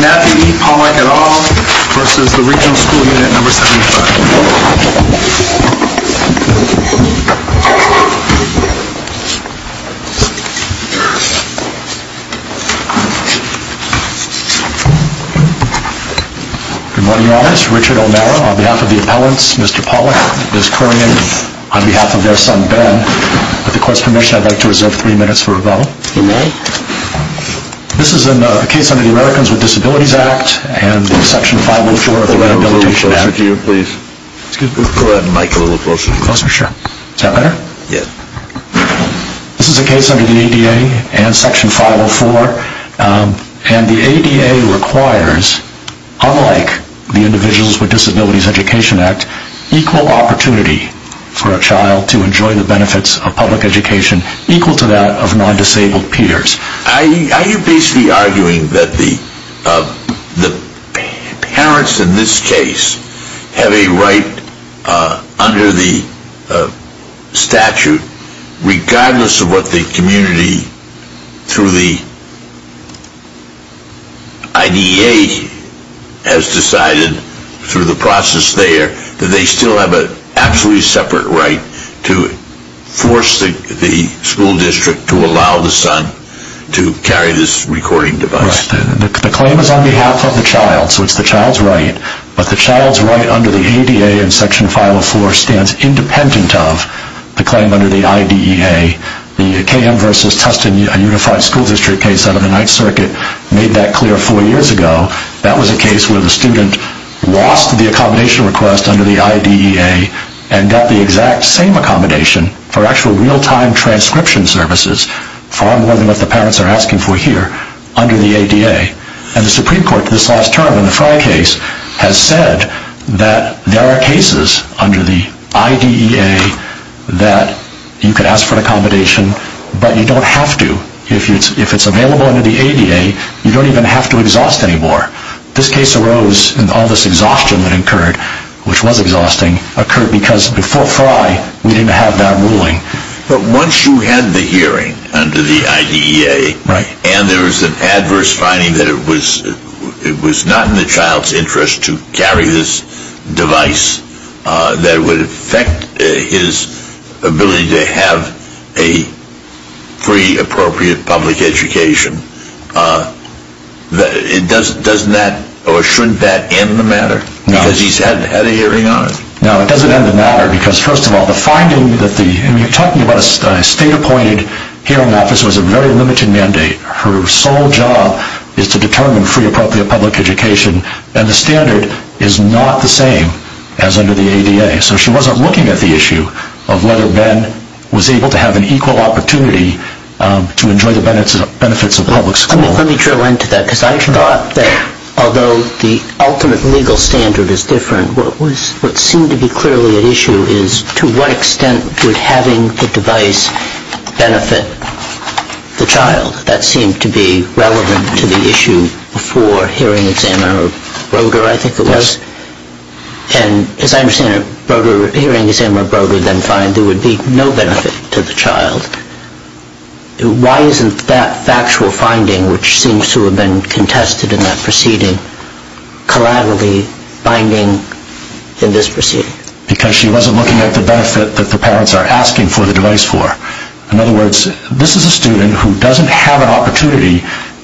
Matthew E. Pollack, Jr. v. Regional School Unit 75 Good morning, Your Honors. Richard O'Mara, on behalf of the appellants, Mr. Pollack, is calling in on behalf of their son, Ben. With the Court's permission, I'd like to reserve three minutes for rebuttal. You may. This is a case under the Americans with Disabilities Act and Section 504 of the Rehabilitation Act. Could we go a little closer to you, please? Excuse me? Go ahead, Mike. A little closer? Sure. Is that better? Yes. This is a case under the ADA and Section 504. And the ADA requires, unlike the Individuals with Disabilities Education Act, equal opportunity for a child to enjoy the benefits of public education, equal to that of non-disabled peers. Are you basically arguing that the parents in this case have a right under the statute, regardless of what the community through the IDA has decided through the process there, that they still have an absolutely separate right to force the school district to allow the son to carry this recording device? Right. The claim is on behalf of the child, so it's the child's right. But the child's right under the ADA and Section 504 stands independent of the claim under the IDEA. The KM v. Tustin Unified School District case out of the Ninth Circuit made that clear four years ago. That was a case where the student lost the accommodation request under the IDEA and got the exact same accommodation for actual real-time transcription services, far more than what the parents are asking for here, under the ADA. And the Supreme Court, this last term in the Frye case, has said that there are cases under the IDEA that you could ask for an accommodation, but you don't have to. If it's available under the ADA, you don't even have to exhaust anymore. This case arose, and all this exhaustion that occurred, which was exhausting, occurred because before Frye, we didn't have that ruling. But once you had the hearing under the IDEA, and there was an adverse finding that it was not in the child's interest to carry this device that would affect his ability to have a free, appropriate public education, doesn't that, or shouldn't that end the matter? No. Because he's had a hearing on it. No, it doesn't end the matter, because first of all, the finding that the, and you're talking about a state-appointed hearing officer with a very limited mandate. Her sole job is to determine free, appropriate public education, and the standard is not the same as under the ADA. So she wasn't looking at the issue of whether Ben was able to have an equal opportunity to enjoy the benefits of public school. Let me drill into that, because I thought that although the ultimate legal standard is different, what seemed to be clearly at issue is to what extent would having the device benefit the child. That seemed to be relevant to the issue before hearing exam or Broder, I think it was. And as I understand it, Broder, hearing exam or Broder, then find there would be no benefit to the child. Why isn't that factual finding, which seems to have been contested in that proceeding, collaterally binding in this proceeding? Because she wasn't looking at the benefit that the parents are asking for the device for. In other words, this is a student who doesn't have an opportunity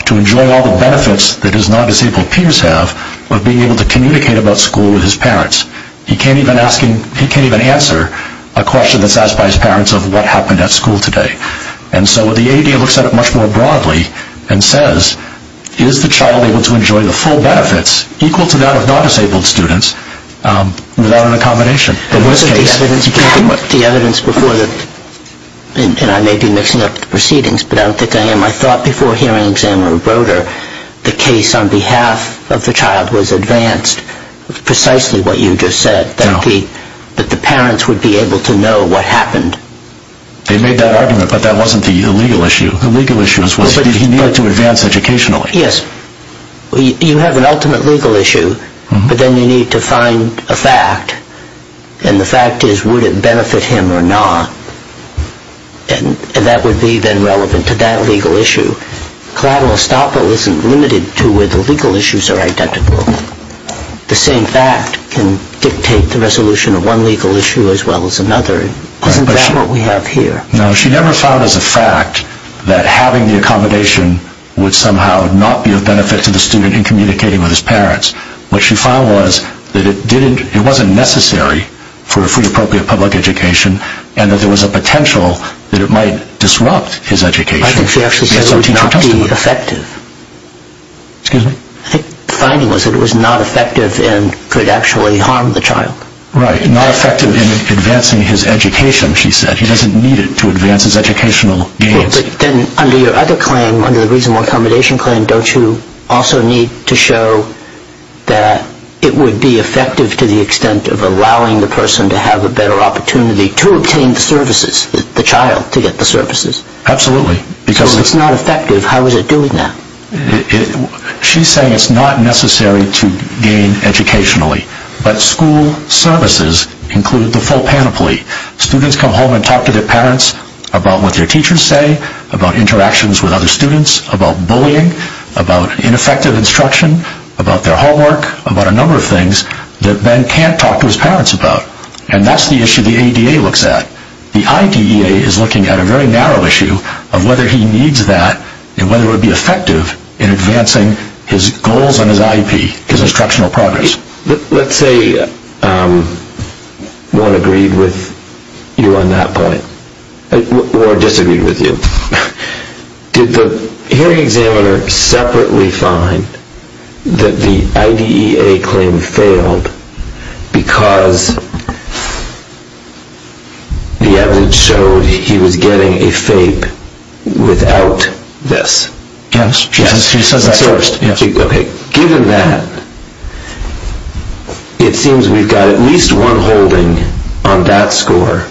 to enjoy all the benefits that his non-disabled peers have of being able to communicate about school with his parents. He can't even answer a question that's asked by his parents of what happened at school today. And so the ADA looks at it much more broadly and says, is the child able to enjoy the full benefits equal to that of non-disabled students without an accommodation? The evidence before, and I may be mixing up the proceedings, but I don't think I am. I thought before hearing exam or Broder, the case on behalf of the child was advanced precisely what you just said, that the parents would be able to know what happened. They made that argument, but that wasn't the legal issue. The legal issue was that he needed to advance educationally. Yes, you have an ultimate legal issue, but then you need to find a fact. And the fact is, would it benefit him or not? And that would be then relevant to that legal issue. Collateral estoppel isn't limited to where the legal issues are identical. The same fact can dictate the resolution of one legal issue as well as another. Isn't that what we have here? No, she never found as a fact that having the accommodation would somehow not be of benefit to the student in communicating with his parents. What she found was that it wasn't necessary for a fully appropriate public education and that there was a potential that it might disrupt his education. I think she actually said it would not be effective. Excuse me? I think the finding was that it was not effective and could actually harm the child. Right, not effective in advancing his education, she said. He doesn't need it to advance his educational gains. But then under your other claim, under the reasonable accommodation claim, don't you also need to show that it would be effective to the extent of allowing the person to have a better opportunity to obtain the services, the child, to get the services? Absolutely. So if it's not effective, how is it doing that? She's saying it's not necessary to gain educationally, but school services include the full panoply. Students come home and talk to their parents about what their teachers say, about interactions with other students, about bullying, about ineffective instruction, about their homework, about a number of things that Ben can't talk to his parents about. And that's the issue the ADA looks at. The IDEA is looking at a very narrow issue of whether he needs that and whether it would be effective in advancing his goals on his IEP, his instructional progress. Let's say one agreed with you on that point, or disagreed with you. Did the hearing examiner separately find that the IDEA claim failed because the evidence showed he was getting a FAPE without this? Yes, she says that first. Okay, given that, it seems we've got at least one holding on that score.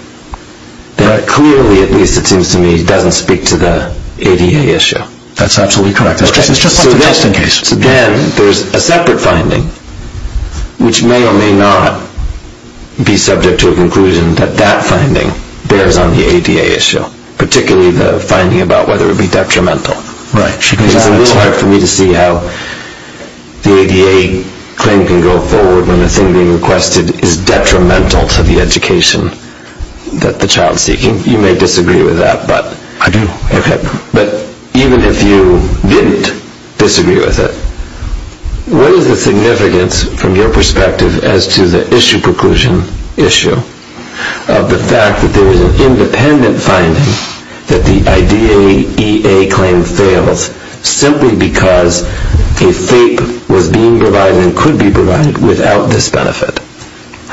But clearly, at least it seems to me, it doesn't speak to the ADA issue. That's absolutely correct. So then there's a separate finding, which may or may not be subject to a conclusion that that finding bears on the ADA issue, particularly the finding about whether it would be detrimental. Right. It's a little hard for me to see how the ADA claim can go forward when the thing being requested is detrimental to the education that the child is seeking. You may disagree with that. I do. Okay. But even if you didn't disagree with it, what is the significance from your perspective as to the issue conclusion issue of the fact that there is an independent finding that the IDEA claim fails simply because a FAPE was being provided and could be provided without this benefit?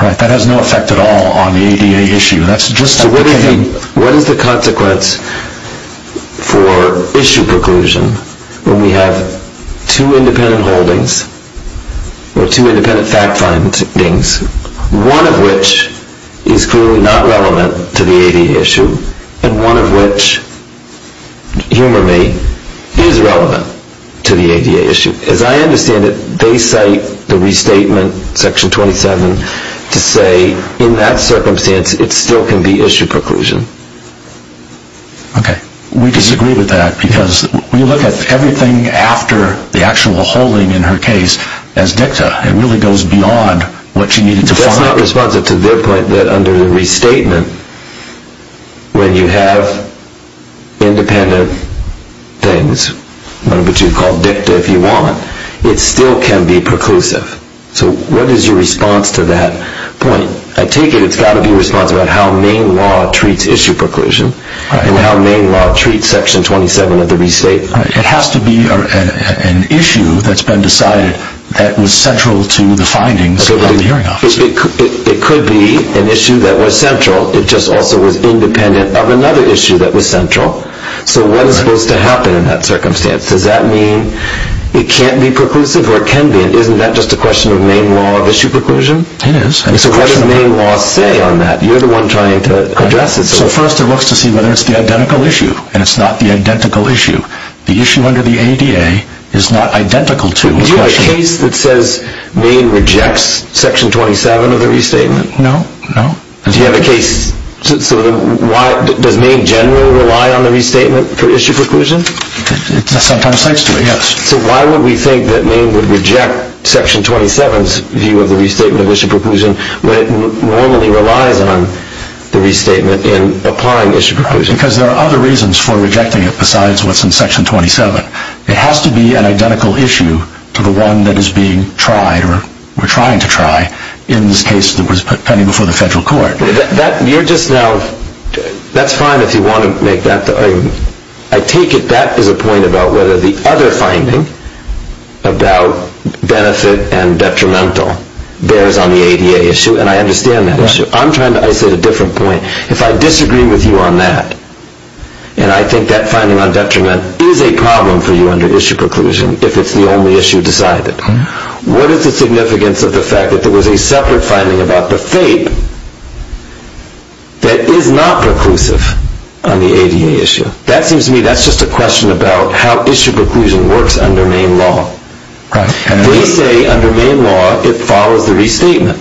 Right. That has no effect at all on the ADA issue. What is the consequence for issue conclusion when we have two independent holdings or two independent fact findings, one of which is clearly not relevant to the ADA issue and one of which, humor me, is relevant to the ADA issue? As I understand it, they cite the restatement, section 27, to say in that circumstance it still can be issue conclusion. Okay. We disagree with that because when you look at everything after the actual holding in her case as dicta, it really goes beyond what she needed to find. It's not responsive to their point that under the restatement, when you have independent things, one of which you call dicta if you want, it still can be preclusive. So what is your response to that point? I take it it's got to be responsive about how Maine law treats issue preclusion and how Maine law treats section 27 of the restatement. It has to be an issue that's been decided that was central to the findings of the hearing office. It could be an issue that was central. It just also was independent of another issue that was central. So what is supposed to happen in that circumstance? Does that mean it can't be preclusive or it can be? Isn't that just a question of Maine law of issue preclusion? It is. What does Maine law say on that? You're the one trying to address it. First it looks to see whether it's the identical issue and it's not the identical issue. The issue under the ADA is not identical to the question. Do you have a case that says Maine rejects section 27 of the restatement? No, no. Do you have a case? Does Maine generally rely on the restatement for issue preclusion? Sometimes it does, yes. So why would we think that Maine would reject section 27's view of the restatement of issue preclusion when it normally relies on the restatement in applying issue preclusion? Because there are other reasons for rejecting it besides what's in section 27. It has to be an identical issue to the one that is being tried or we're trying to try in this case that was pending before the federal court. That's fine if you want to make that. I take it that is a point about whether the other finding about benefit and detrimental bears on the ADA issue and I understand that issue. I'm trying to isolate a different point. If I disagree with you on that and I think that finding on detriment is a problem for you under issue preclusion if it's the only issue decided, what is the significance of the fact that there was a separate finding about the fate that is not preclusive on the ADA issue? That seems to me that's just a question about how issue preclusion works under Maine law. They say under Maine law it follows the restatement.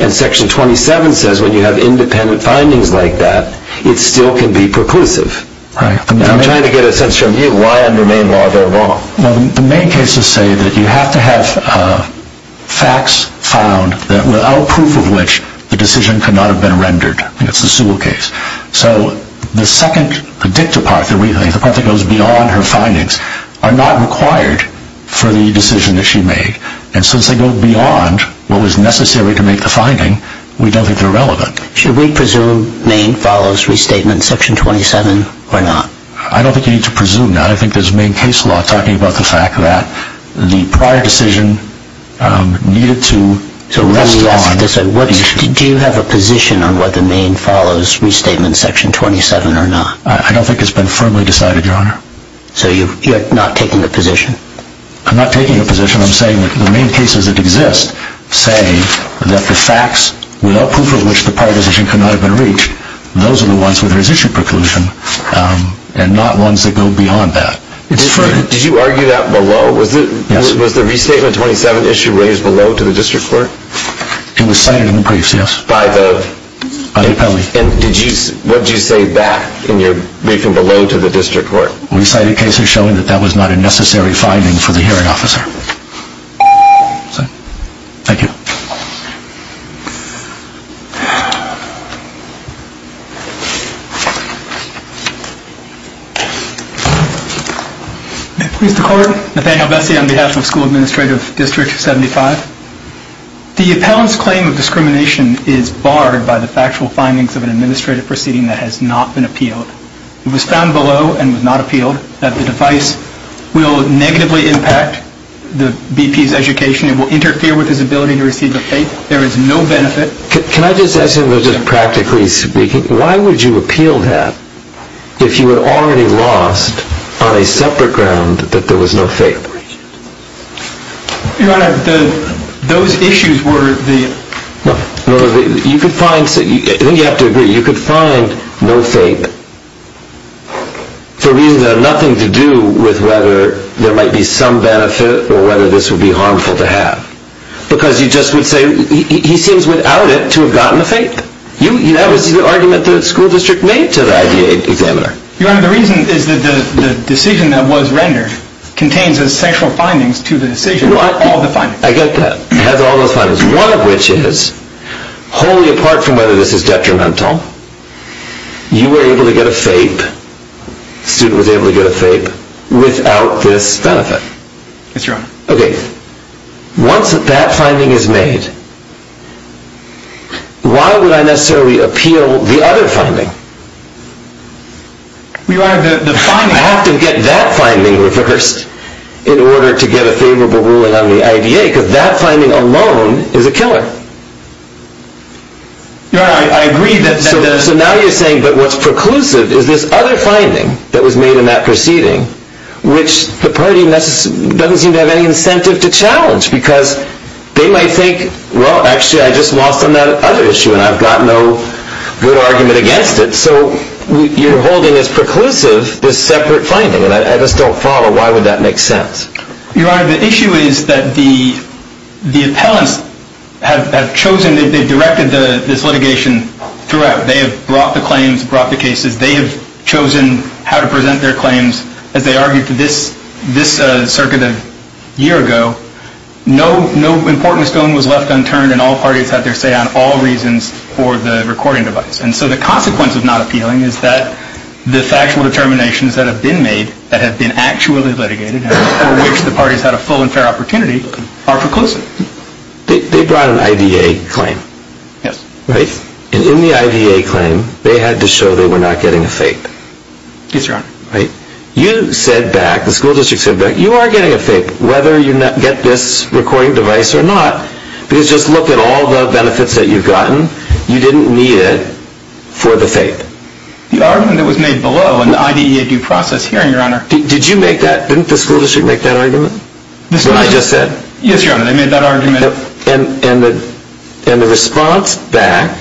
And section 27 says when you have independent findings like that it still can be preclusive. I'm trying to get a sense from you why under Maine law they're wrong. The Maine cases say that you have to have facts found without proof of which the decision could not have been rendered. That's the Sewell case. So the second part that goes beyond her findings are not required for the decision that she made. And since they go beyond what was necessary to make the finding we don't think they're relevant. Should we presume Maine follows restatement section 27 or not? I don't think you need to presume that. I think there's Maine case law talking about the fact that the prior decision needed to rest on the issue. Do you have a position on whether Maine follows restatement section 27 or not? I don't think it's been firmly decided, Your Honor. So you're not taking a position? I'm not taking a position. I'm saying that the Maine cases that exist say that the facts without proof of which the prior decision could not have been reached, those are the ones where there's issue preclusion and not ones that go beyond that. Did you argue that below? Yes. Was the restatement 27 issue raised below to the district court? It was cited in the brief, yes. By the? By the appellee. And what did you say back in your briefing below to the district court? We cited cases showing that that was not a necessary finding for the hearing officer. Thank you. Please declare. Nathaniel Bessie on behalf of School Administrative District 75. The appellant's claim of discrimination is barred by the factual findings of an administrative proceeding that has not been appealed. It was found below and was not appealed that the device will negatively impact the BP's education. It will interfere with his ability to receive the FAPE. There is no benefit. Can I just ask him, just practically speaking, why would you appeal that if you had already lost on a separate ground that there was no FAPE? Your Honor, those issues were the... I think you have to agree. You could find no FAPE for reasons that have nothing to do with whether there might be some benefit or whether this would be harmful to have. Because you just would say he seems without it to have gotten the FAPE. That was the argument the school district made to the IDA examiner. Your Honor, the reason is that the decision that was rendered contains essential findings to the decision. I get that. It has all those findings. One of which is, wholly apart from whether this is detrimental, you were able to get a FAPE, the student was able to get a FAPE, without this benefit. Yes, Your Honor. Okay. Once that finding is made, why would I necessarily appeal the other finding? Your Honor, the finding... Your Honor, I agree that... So now you're saying that what's preclusive is this other finding that was made in that proceeding, which the party doesn't seem to have any incentive to challenge. Because they might think, well, actually I just lost on that other issue and I've got no good argument against it. So you're holding as preclusive this separate finding. And I just don't follow. Why would that make sense? Your Honor, the issue is that the appellants have chosen, they've directed this litigation throughout. They have brought the claims, brought the cases. They have chosen how to present their claims. As they argued to this circuit a year ago, no important stone was left unturned and all parties had their say on all reasons for the recording device. And so the consequence of not appealing is that the factual determinations that have been made, that have been actually litigated, and for which the parties had a full and fair opportunity, are preclusive. They brought an IDA claim. Yes. Right? And in the IDA claim, they had to show they were not getting a fake. Yes, Your Honor. Right? You said back, the school district said back, you are getting a fake, whether you get this recording device or not. Because just look at all the benefits that you've gotten. You didn't need it for the fake. The argument that was made below in the IDA due process hearing, Your Honor. Didn't the school district make that argument? When I just said? Yes, Your Honor, they made that argument. And the response back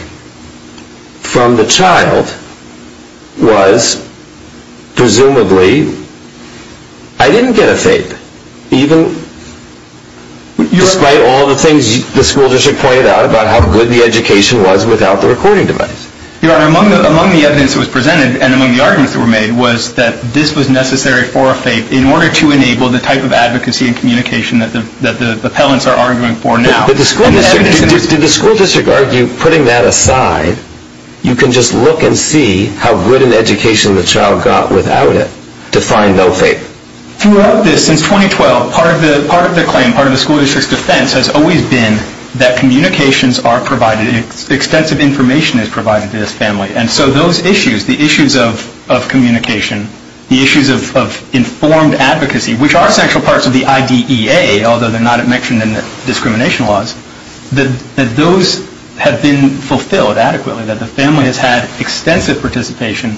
from the child was presumably, I didn't get a fake. Despite all the things the school district pointed out about how good the education was without the recording device. Your Honor, among the evidence that was presented and among the arguments that were made was that this was necessary for a fake in order to enable the type of advocacy and communication that the appellants are arguing for now. Did the school district argue, putting that aside, you can just look and see how good an education the child got without it to find no fake? Throughout this, since 2012, part of the claim, part of the school district's defense has always been that communications are provided, extensive information is provided to this family. And so those issues, the issues of communication, the issues of informed advocacy, which are central parts of the IDEA, although they're not mentioned in the discrimination laws, that those have been fulfilled adequately. That the family has had extensive participation.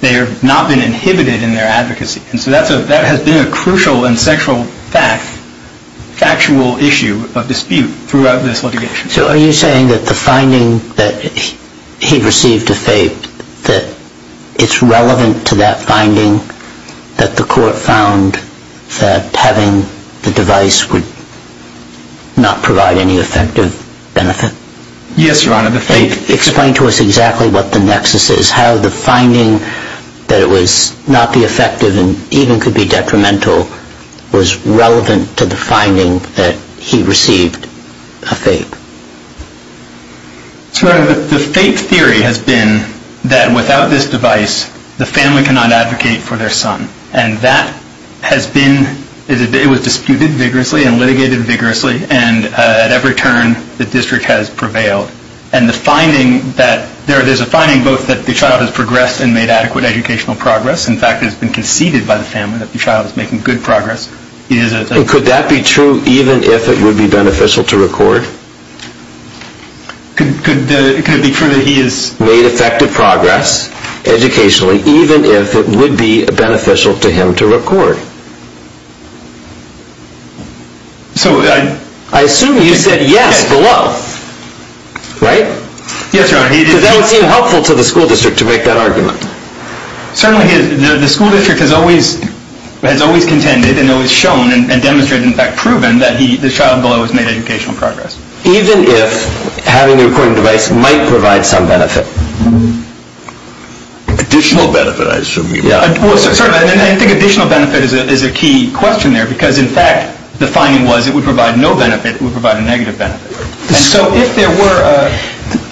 They have not been inhibited in their advocacy. And so that has been a crucial and central fact, factual issue of dispute throughout this litigation. So are you saying that the finding that he received a fake, that it's relevant to that finding, that the court found that having the device would not provide any effective benefit? Yes, Your Honor. Explain to us exactly what the nexus is. How the finding that it was not the effective and even could be detrimental was relevant to the finding that he received a fake? The fake theory has been that without this device, the family cannot advocate for their son. And that has been, it was disputed vigorously and litigated vigorously. And at every turn, the district has prevailed. And the finding that there is a finding both that the child has progressed and made adequate educational progress. In fact, it has been conceded by the family that the child is making good progress. Could that be true even if it would be beneficial to record? Could it be true that he has made effective progress educationally, even if it would be beneficial to him to record? I assume you said yes below, right? Yes, Your Honor. Because that would seem helpful to the school district to make that argument. Certainly, the school district has always contended and always shown and demonstrated, in fact, proven that the child below has made educational progress. Even if having the recording device might provide some benefit? Additional benefit, I assume you mean. Certainly. I think additional benefit is a key question there because, in fact, the finding was it would provide no benefit. It would provide a negative benefit. So if there were a…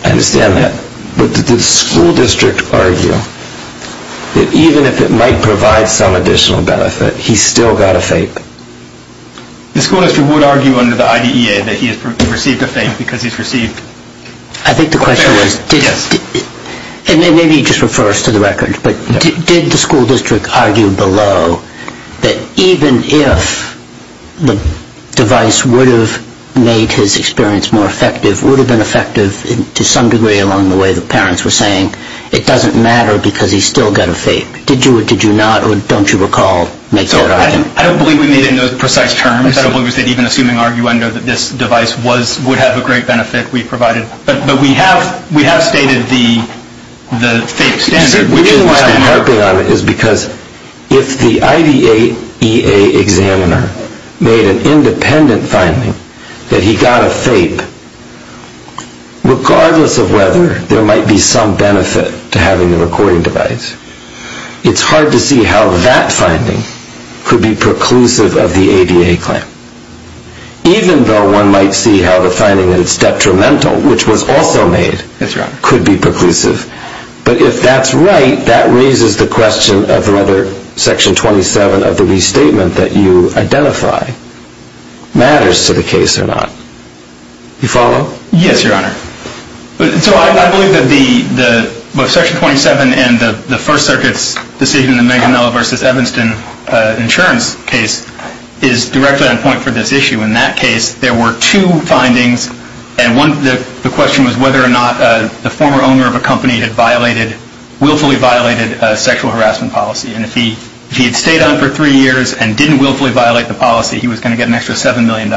I understand that. But did the school district argue that even if it might provide some additional benefit, he still got a fake? The school district would argue under the IDEA that he has received a fake because he has received… I think the question was… Yes. Maybe he just refers to the record, but did the school district argue below that even if the device would have made his experience more effective, would have been effective to some degree along the way the parents were saying it doesn't matter because he still got a fake? Did you or did you not, or don't you recall, make that argument? I don't believe we made it in those precise terms. I don't believe we made it even assuming arguendo that this device would have a great benefit we provided. But we have stated the fake standard. The reason why I'm harping on it is because if the IDEA examiner made an independent finding that he got a fake, regardless of whether there might be some benefit to having the recording device, it's hard to see how that finding could be preclusive of the ADA claim. Even though one might see how the finding is detrimental, which was also made, could be preclusive. But if that's right, that raises the question of whether Section 27 of the restatement that you identify matters to the case or not. Do you follow? Yes, Your Honor. So I believe that both Section 27 and the First Circuit's decision in the Manganello v. Evanston insurance case is directly on point for this issue. In that case, there were two findings. And the question was whether or not the former owner of a company had willfully violated sexual harassment policy. And if he had stayed on for three years and didn't willfully violate the policy, he was going to get an extra $7 million.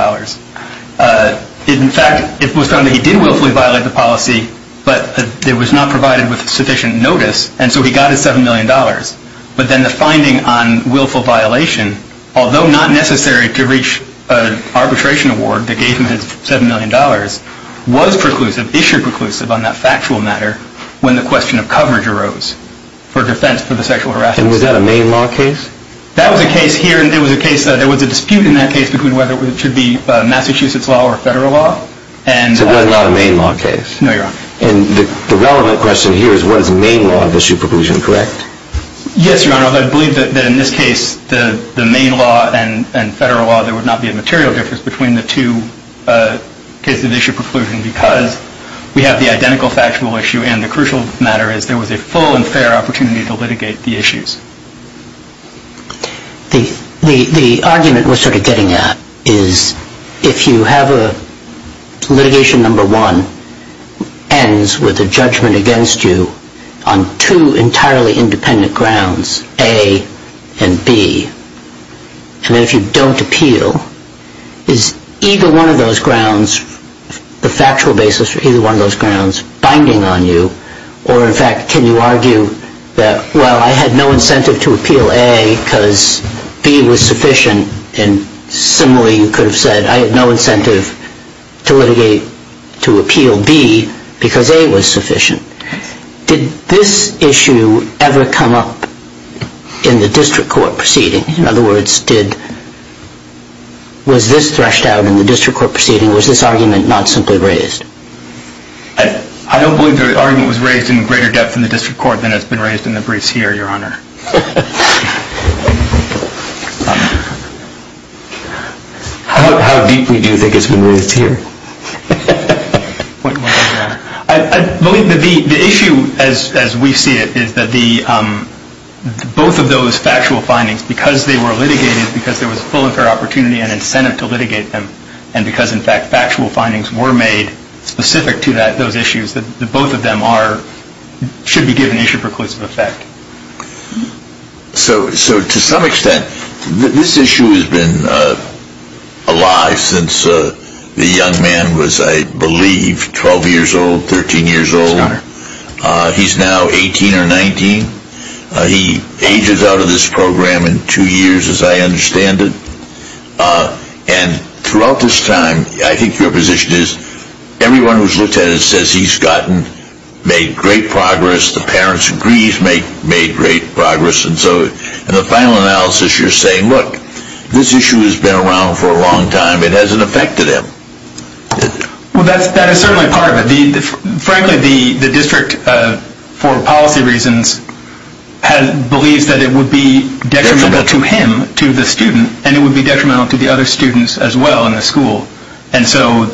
In fact, it was found that he did willfully violate the policy, but it was not provided with sufficient notice. And so he got his $7 million. But then the finding on willful violation, although not necessary to reach an arbitration award that gave him his $7 million, was preclusive, issued preclusive on that factual matter when the question of coverage arose for defense for the sexual harassment. And was that a Maine law case? That was a case here, and there was a dispute in that case between whether it should be Massachusetts law or federal law. So it was not a Maine law case? No, Your Honor. And the relevant question here is what is Maine law of issue preclusion, correct? Yes, Your Honor. I believe that in this case, the Maine law and federal law, there would not be a material difference between the two cases of issue preclusion because we have the identical factual issue, and the crucial matter is there was a full and fair opportunity to litigate the issues. The argument we're sort of getting at is if you have litigation number one ends with a judgment against you on two entirely independent grounds, A and B, and if you don't appeal, is either one of those grounds, the factual basis for either one of those grounds, binding on you? Or, in fact, can you argue that, well, I had no incentive to appeal A because B was sufficient, and similarly you could have said I had no incentive to litigate to appeal B because A was sufficient. Did this issue ever come up in the district court proceeding? In other words, was this threshed out in the district court proceeding? Was this argument not simply raised? I don't believe the argument was raised in greater depth in the district court than has been raised in the briefs here, Your Honor. How deeply do you think it's been raised here? I believe the issue, as we see it, is that both of those factual findings, because they were litigated, because there was a full and fair opportunity and incentive to litigate them, and because, in fact, factual findings were made specific to those issues, that both of them should be given issue preclusive effect. So, to some extent, this issue has been alive since the young man was, I believe, 12 years old, 13 years old. He's now 18 or 19. He ages out of this program in two years, as I understand it. And throughout this time, I think your position is everyone who's looked at it says he's gotten, made great progress, the parents agree he's made great progress. And so, in the final analysis, you're saying, look, this issue has been around for a long time. It hasn't affected him. Well, that is certainly part of it. Frankly, the district, for policy reasons, believes that it would be detrimental to him, to the student, and it would be detrimental to the other students as well in the school. And so,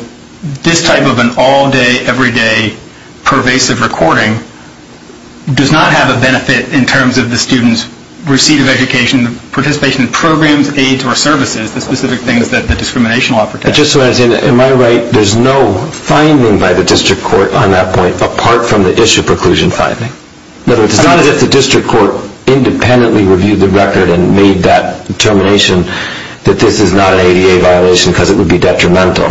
this type of an all-day, every-day, pervasive recording does not have a benefit in terms of the student's receipt of education, participation in programs, aids, or services, the specific things that the discrimination law protects. But just so I understand, am I right, there's no finding by the district court on that point, apart from the issue preclusion finding? It's not as if the district court independently reviewed the record and made that determination that this is not an ADA violation because it would be detrimental.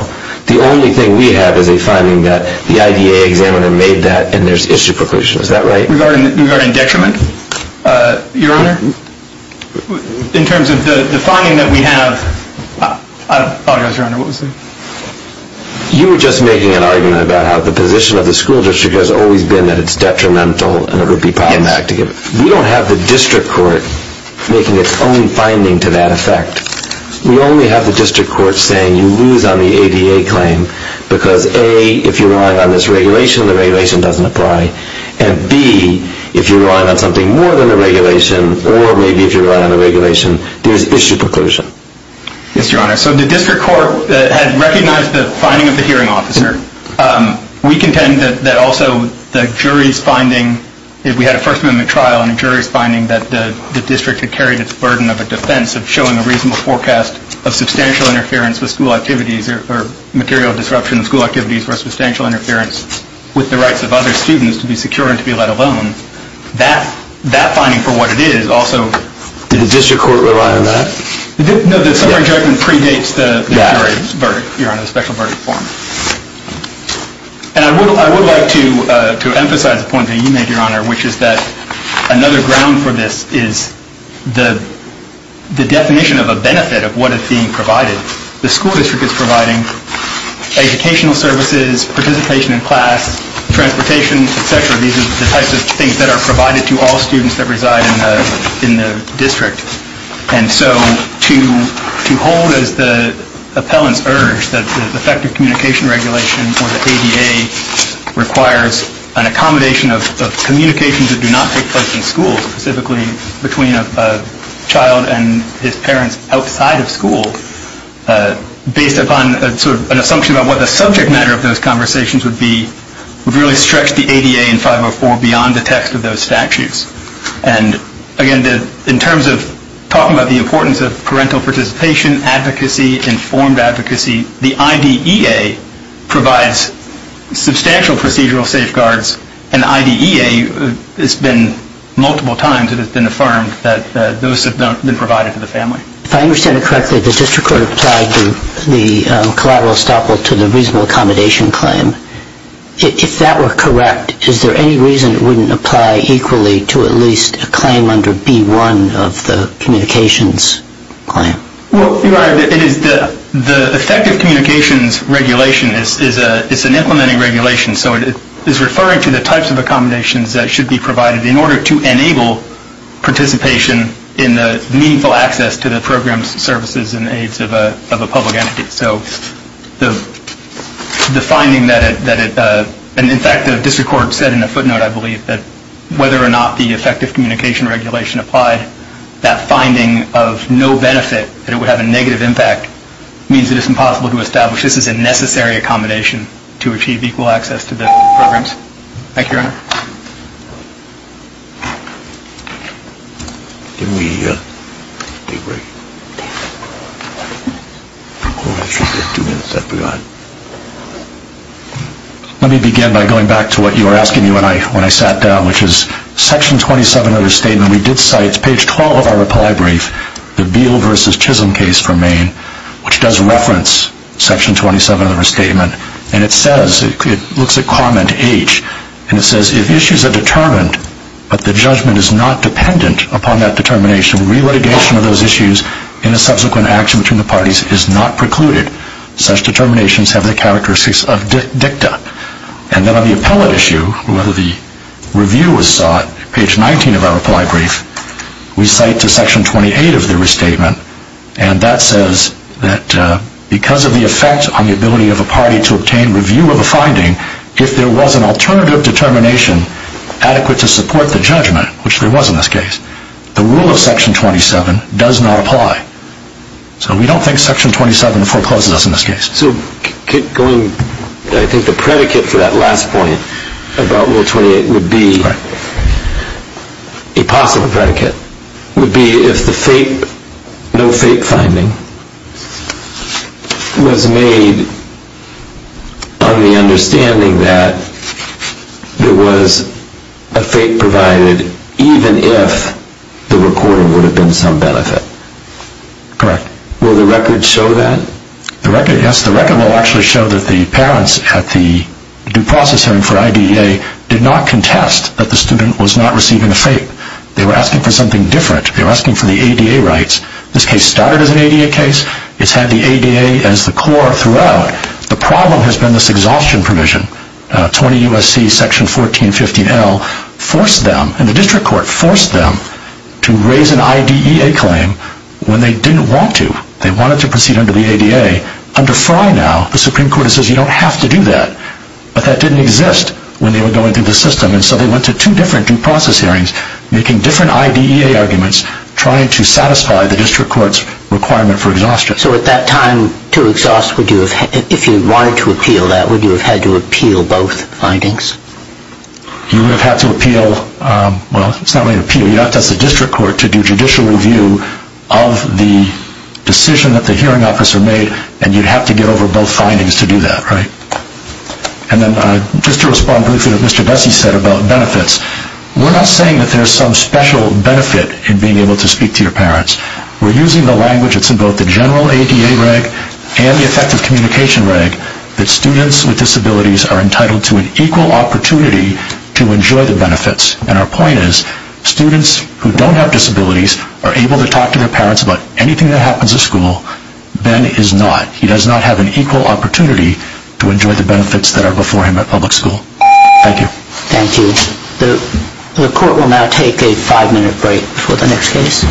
The only thing we have is a finding that the IDA examiner made that, and there's issue preclusion. Is that right? Regarding detriment, Your Honor? In terms of the finding that we have, I apologize, Your Honor, what was that? You were just making an argument about how the position of the school district has always been that it's detrimental and it would be problematic to give it. We don't have the district court making its own finding to that effect. We only have the district court saying you lose on the ADA claim because, A, if you rely on this regulation, the regulation doesn't apply, and, B, if you rely on something more than the regulation, or maybe if you rely on the regulation, there's issue preclusion. Yes, Your Honor. So the district court had recognized the finding of the hearing officer. We contend that also the jury's finding, if we had a First Amendment trial and a jury's finding that the district had carried its burden of a defense of showing a reasonable forecast of substantial interference with school activities or material disruption of school activities for substantial interference with the rights of other students to be secure and to be let alone, that finding for what it is also. Did the district court rely on that? No, the summary judgment predates the jury's verdict. Your Honor, the special verdict form. And I would like to emphasize a point that you made, Your Honor, which is that another ground for this is the definition of a benefit of what is being provided. The school district is providing educational services, participation in class, transportation, et cetera. These are the types of things that are provided to all students that reside in the district. And so to hold as the appellant's urge that the effective communication regulation or the ADA requires an accommodation of communications that do not take place in schools, specifically between a child and his parents outside of school, based upon sort of an assumption about what the subject matter of those conversations would be, would really stretch the ADA in 504 beyond the text of those statutes. And, again, in terms of talking about the importance of parental participation, advocacy, informed advocacy, the IDEA provides substantial procedural safeguards, and IDEA has been multiple times it has been affirmed that those have been provided to the family. If I understand it correctly, the district court applied the collateral estoppel to the reasonable accommodation claim. If that were correct, is there any reason it wouldn't apply equally to at least a claim under B-1 of the communications claim? Well, Your Honor, the effective communications regulation is an implementing regulation, so it is referring to the types of accommodations that should be provided in order to enable participation in the meaningful access to the programs, services, and aids of a public entity. So the finding that it – and, in fact, the district court said in a footnote, I believe, that whether or not the effective communication regulation applied, that finding of no benefit, that it would have a negative impact, means it is impossible to establish this is a necessary accommodation to achieve equal access to the programs. Thank you, Your Honor. Let me begin by going back to what you were asking me when I sat down, which is Section 27 of the statement. We did cite page 12 of our reply brief, the Beal v. Chisholm case for Maine, which does reference Section 27 of the statement, and it says – it looks at comment H, and it says, if issues are determined but the judgment is not dependent upon that determination, re-litigation of those issues in a subsequent action between the parties is not precluded. Such determinations have the characteristics of dicta. And then on the appellate issue, whether the review was sought, page 19 of our reply brief, we cite to Section 28 of the restatement, and that says that because of the effect on the ability of a party to obtain review of a finding, if there was an alternative determination adequate to support the judgment, which there was in this case, the rule of Section 27 does not apply. So we don't think Section 27 forecloses us in this case. So going – I think the predicate for that last point about Rule 28 would be – a possible predicate – would be if the no-fake finding was made on the understanding that there was a fake provided, even if the recorder would have been some benefit. Correct. Will the record show that? Yes, the record will actually show that the parents at the due process hearing for IDEA did not contest that the student was not receiving a fake. They were asking for something different. They were asking for the ADA rights. This case started as an ADA case. It's had the ADA as the core throughout. The problem has been this exhaustion provision. 20 U.S.C. Section 1415L forced them, and the district court forced them, to raise an IDEA claim when they didn't want to. They wanted to proceed under the ADA. Under FRI now, the Supreme Court says you don't have to do that. But that didn't exist when they were going through the system. And so they went to two different due process hearings, making different IDEA arguments trying to satisfy the district court's requirement for exhaustion. So at that time, to exhaust, if you wanted to appeal that, would you have had to appeal both findings? You would have had to appeal – well, it's not really an appeal. You'd have to ask the district court to do judicial review of the decision that the hearing officer made, and you'd have to get over both findings to do that, right? And then just to respond briefly to what Mr. Bessie said about benefits, we're not saying that there's some special benefit in being able to speak to your parents. We're using the language that's in both the general ADA reg and the effective communication reg that students with disabilities are entitled to an equal opportunity to enjoy the benefits. And our point is, students who don't have disabilities are able to talk to their parents about anything that happens at school. Ben is not. He does not have an equal opportunity to enjoy the benefits that are before him at public school. Thank you. Thank you. The court will now take a five-minute break for the next case.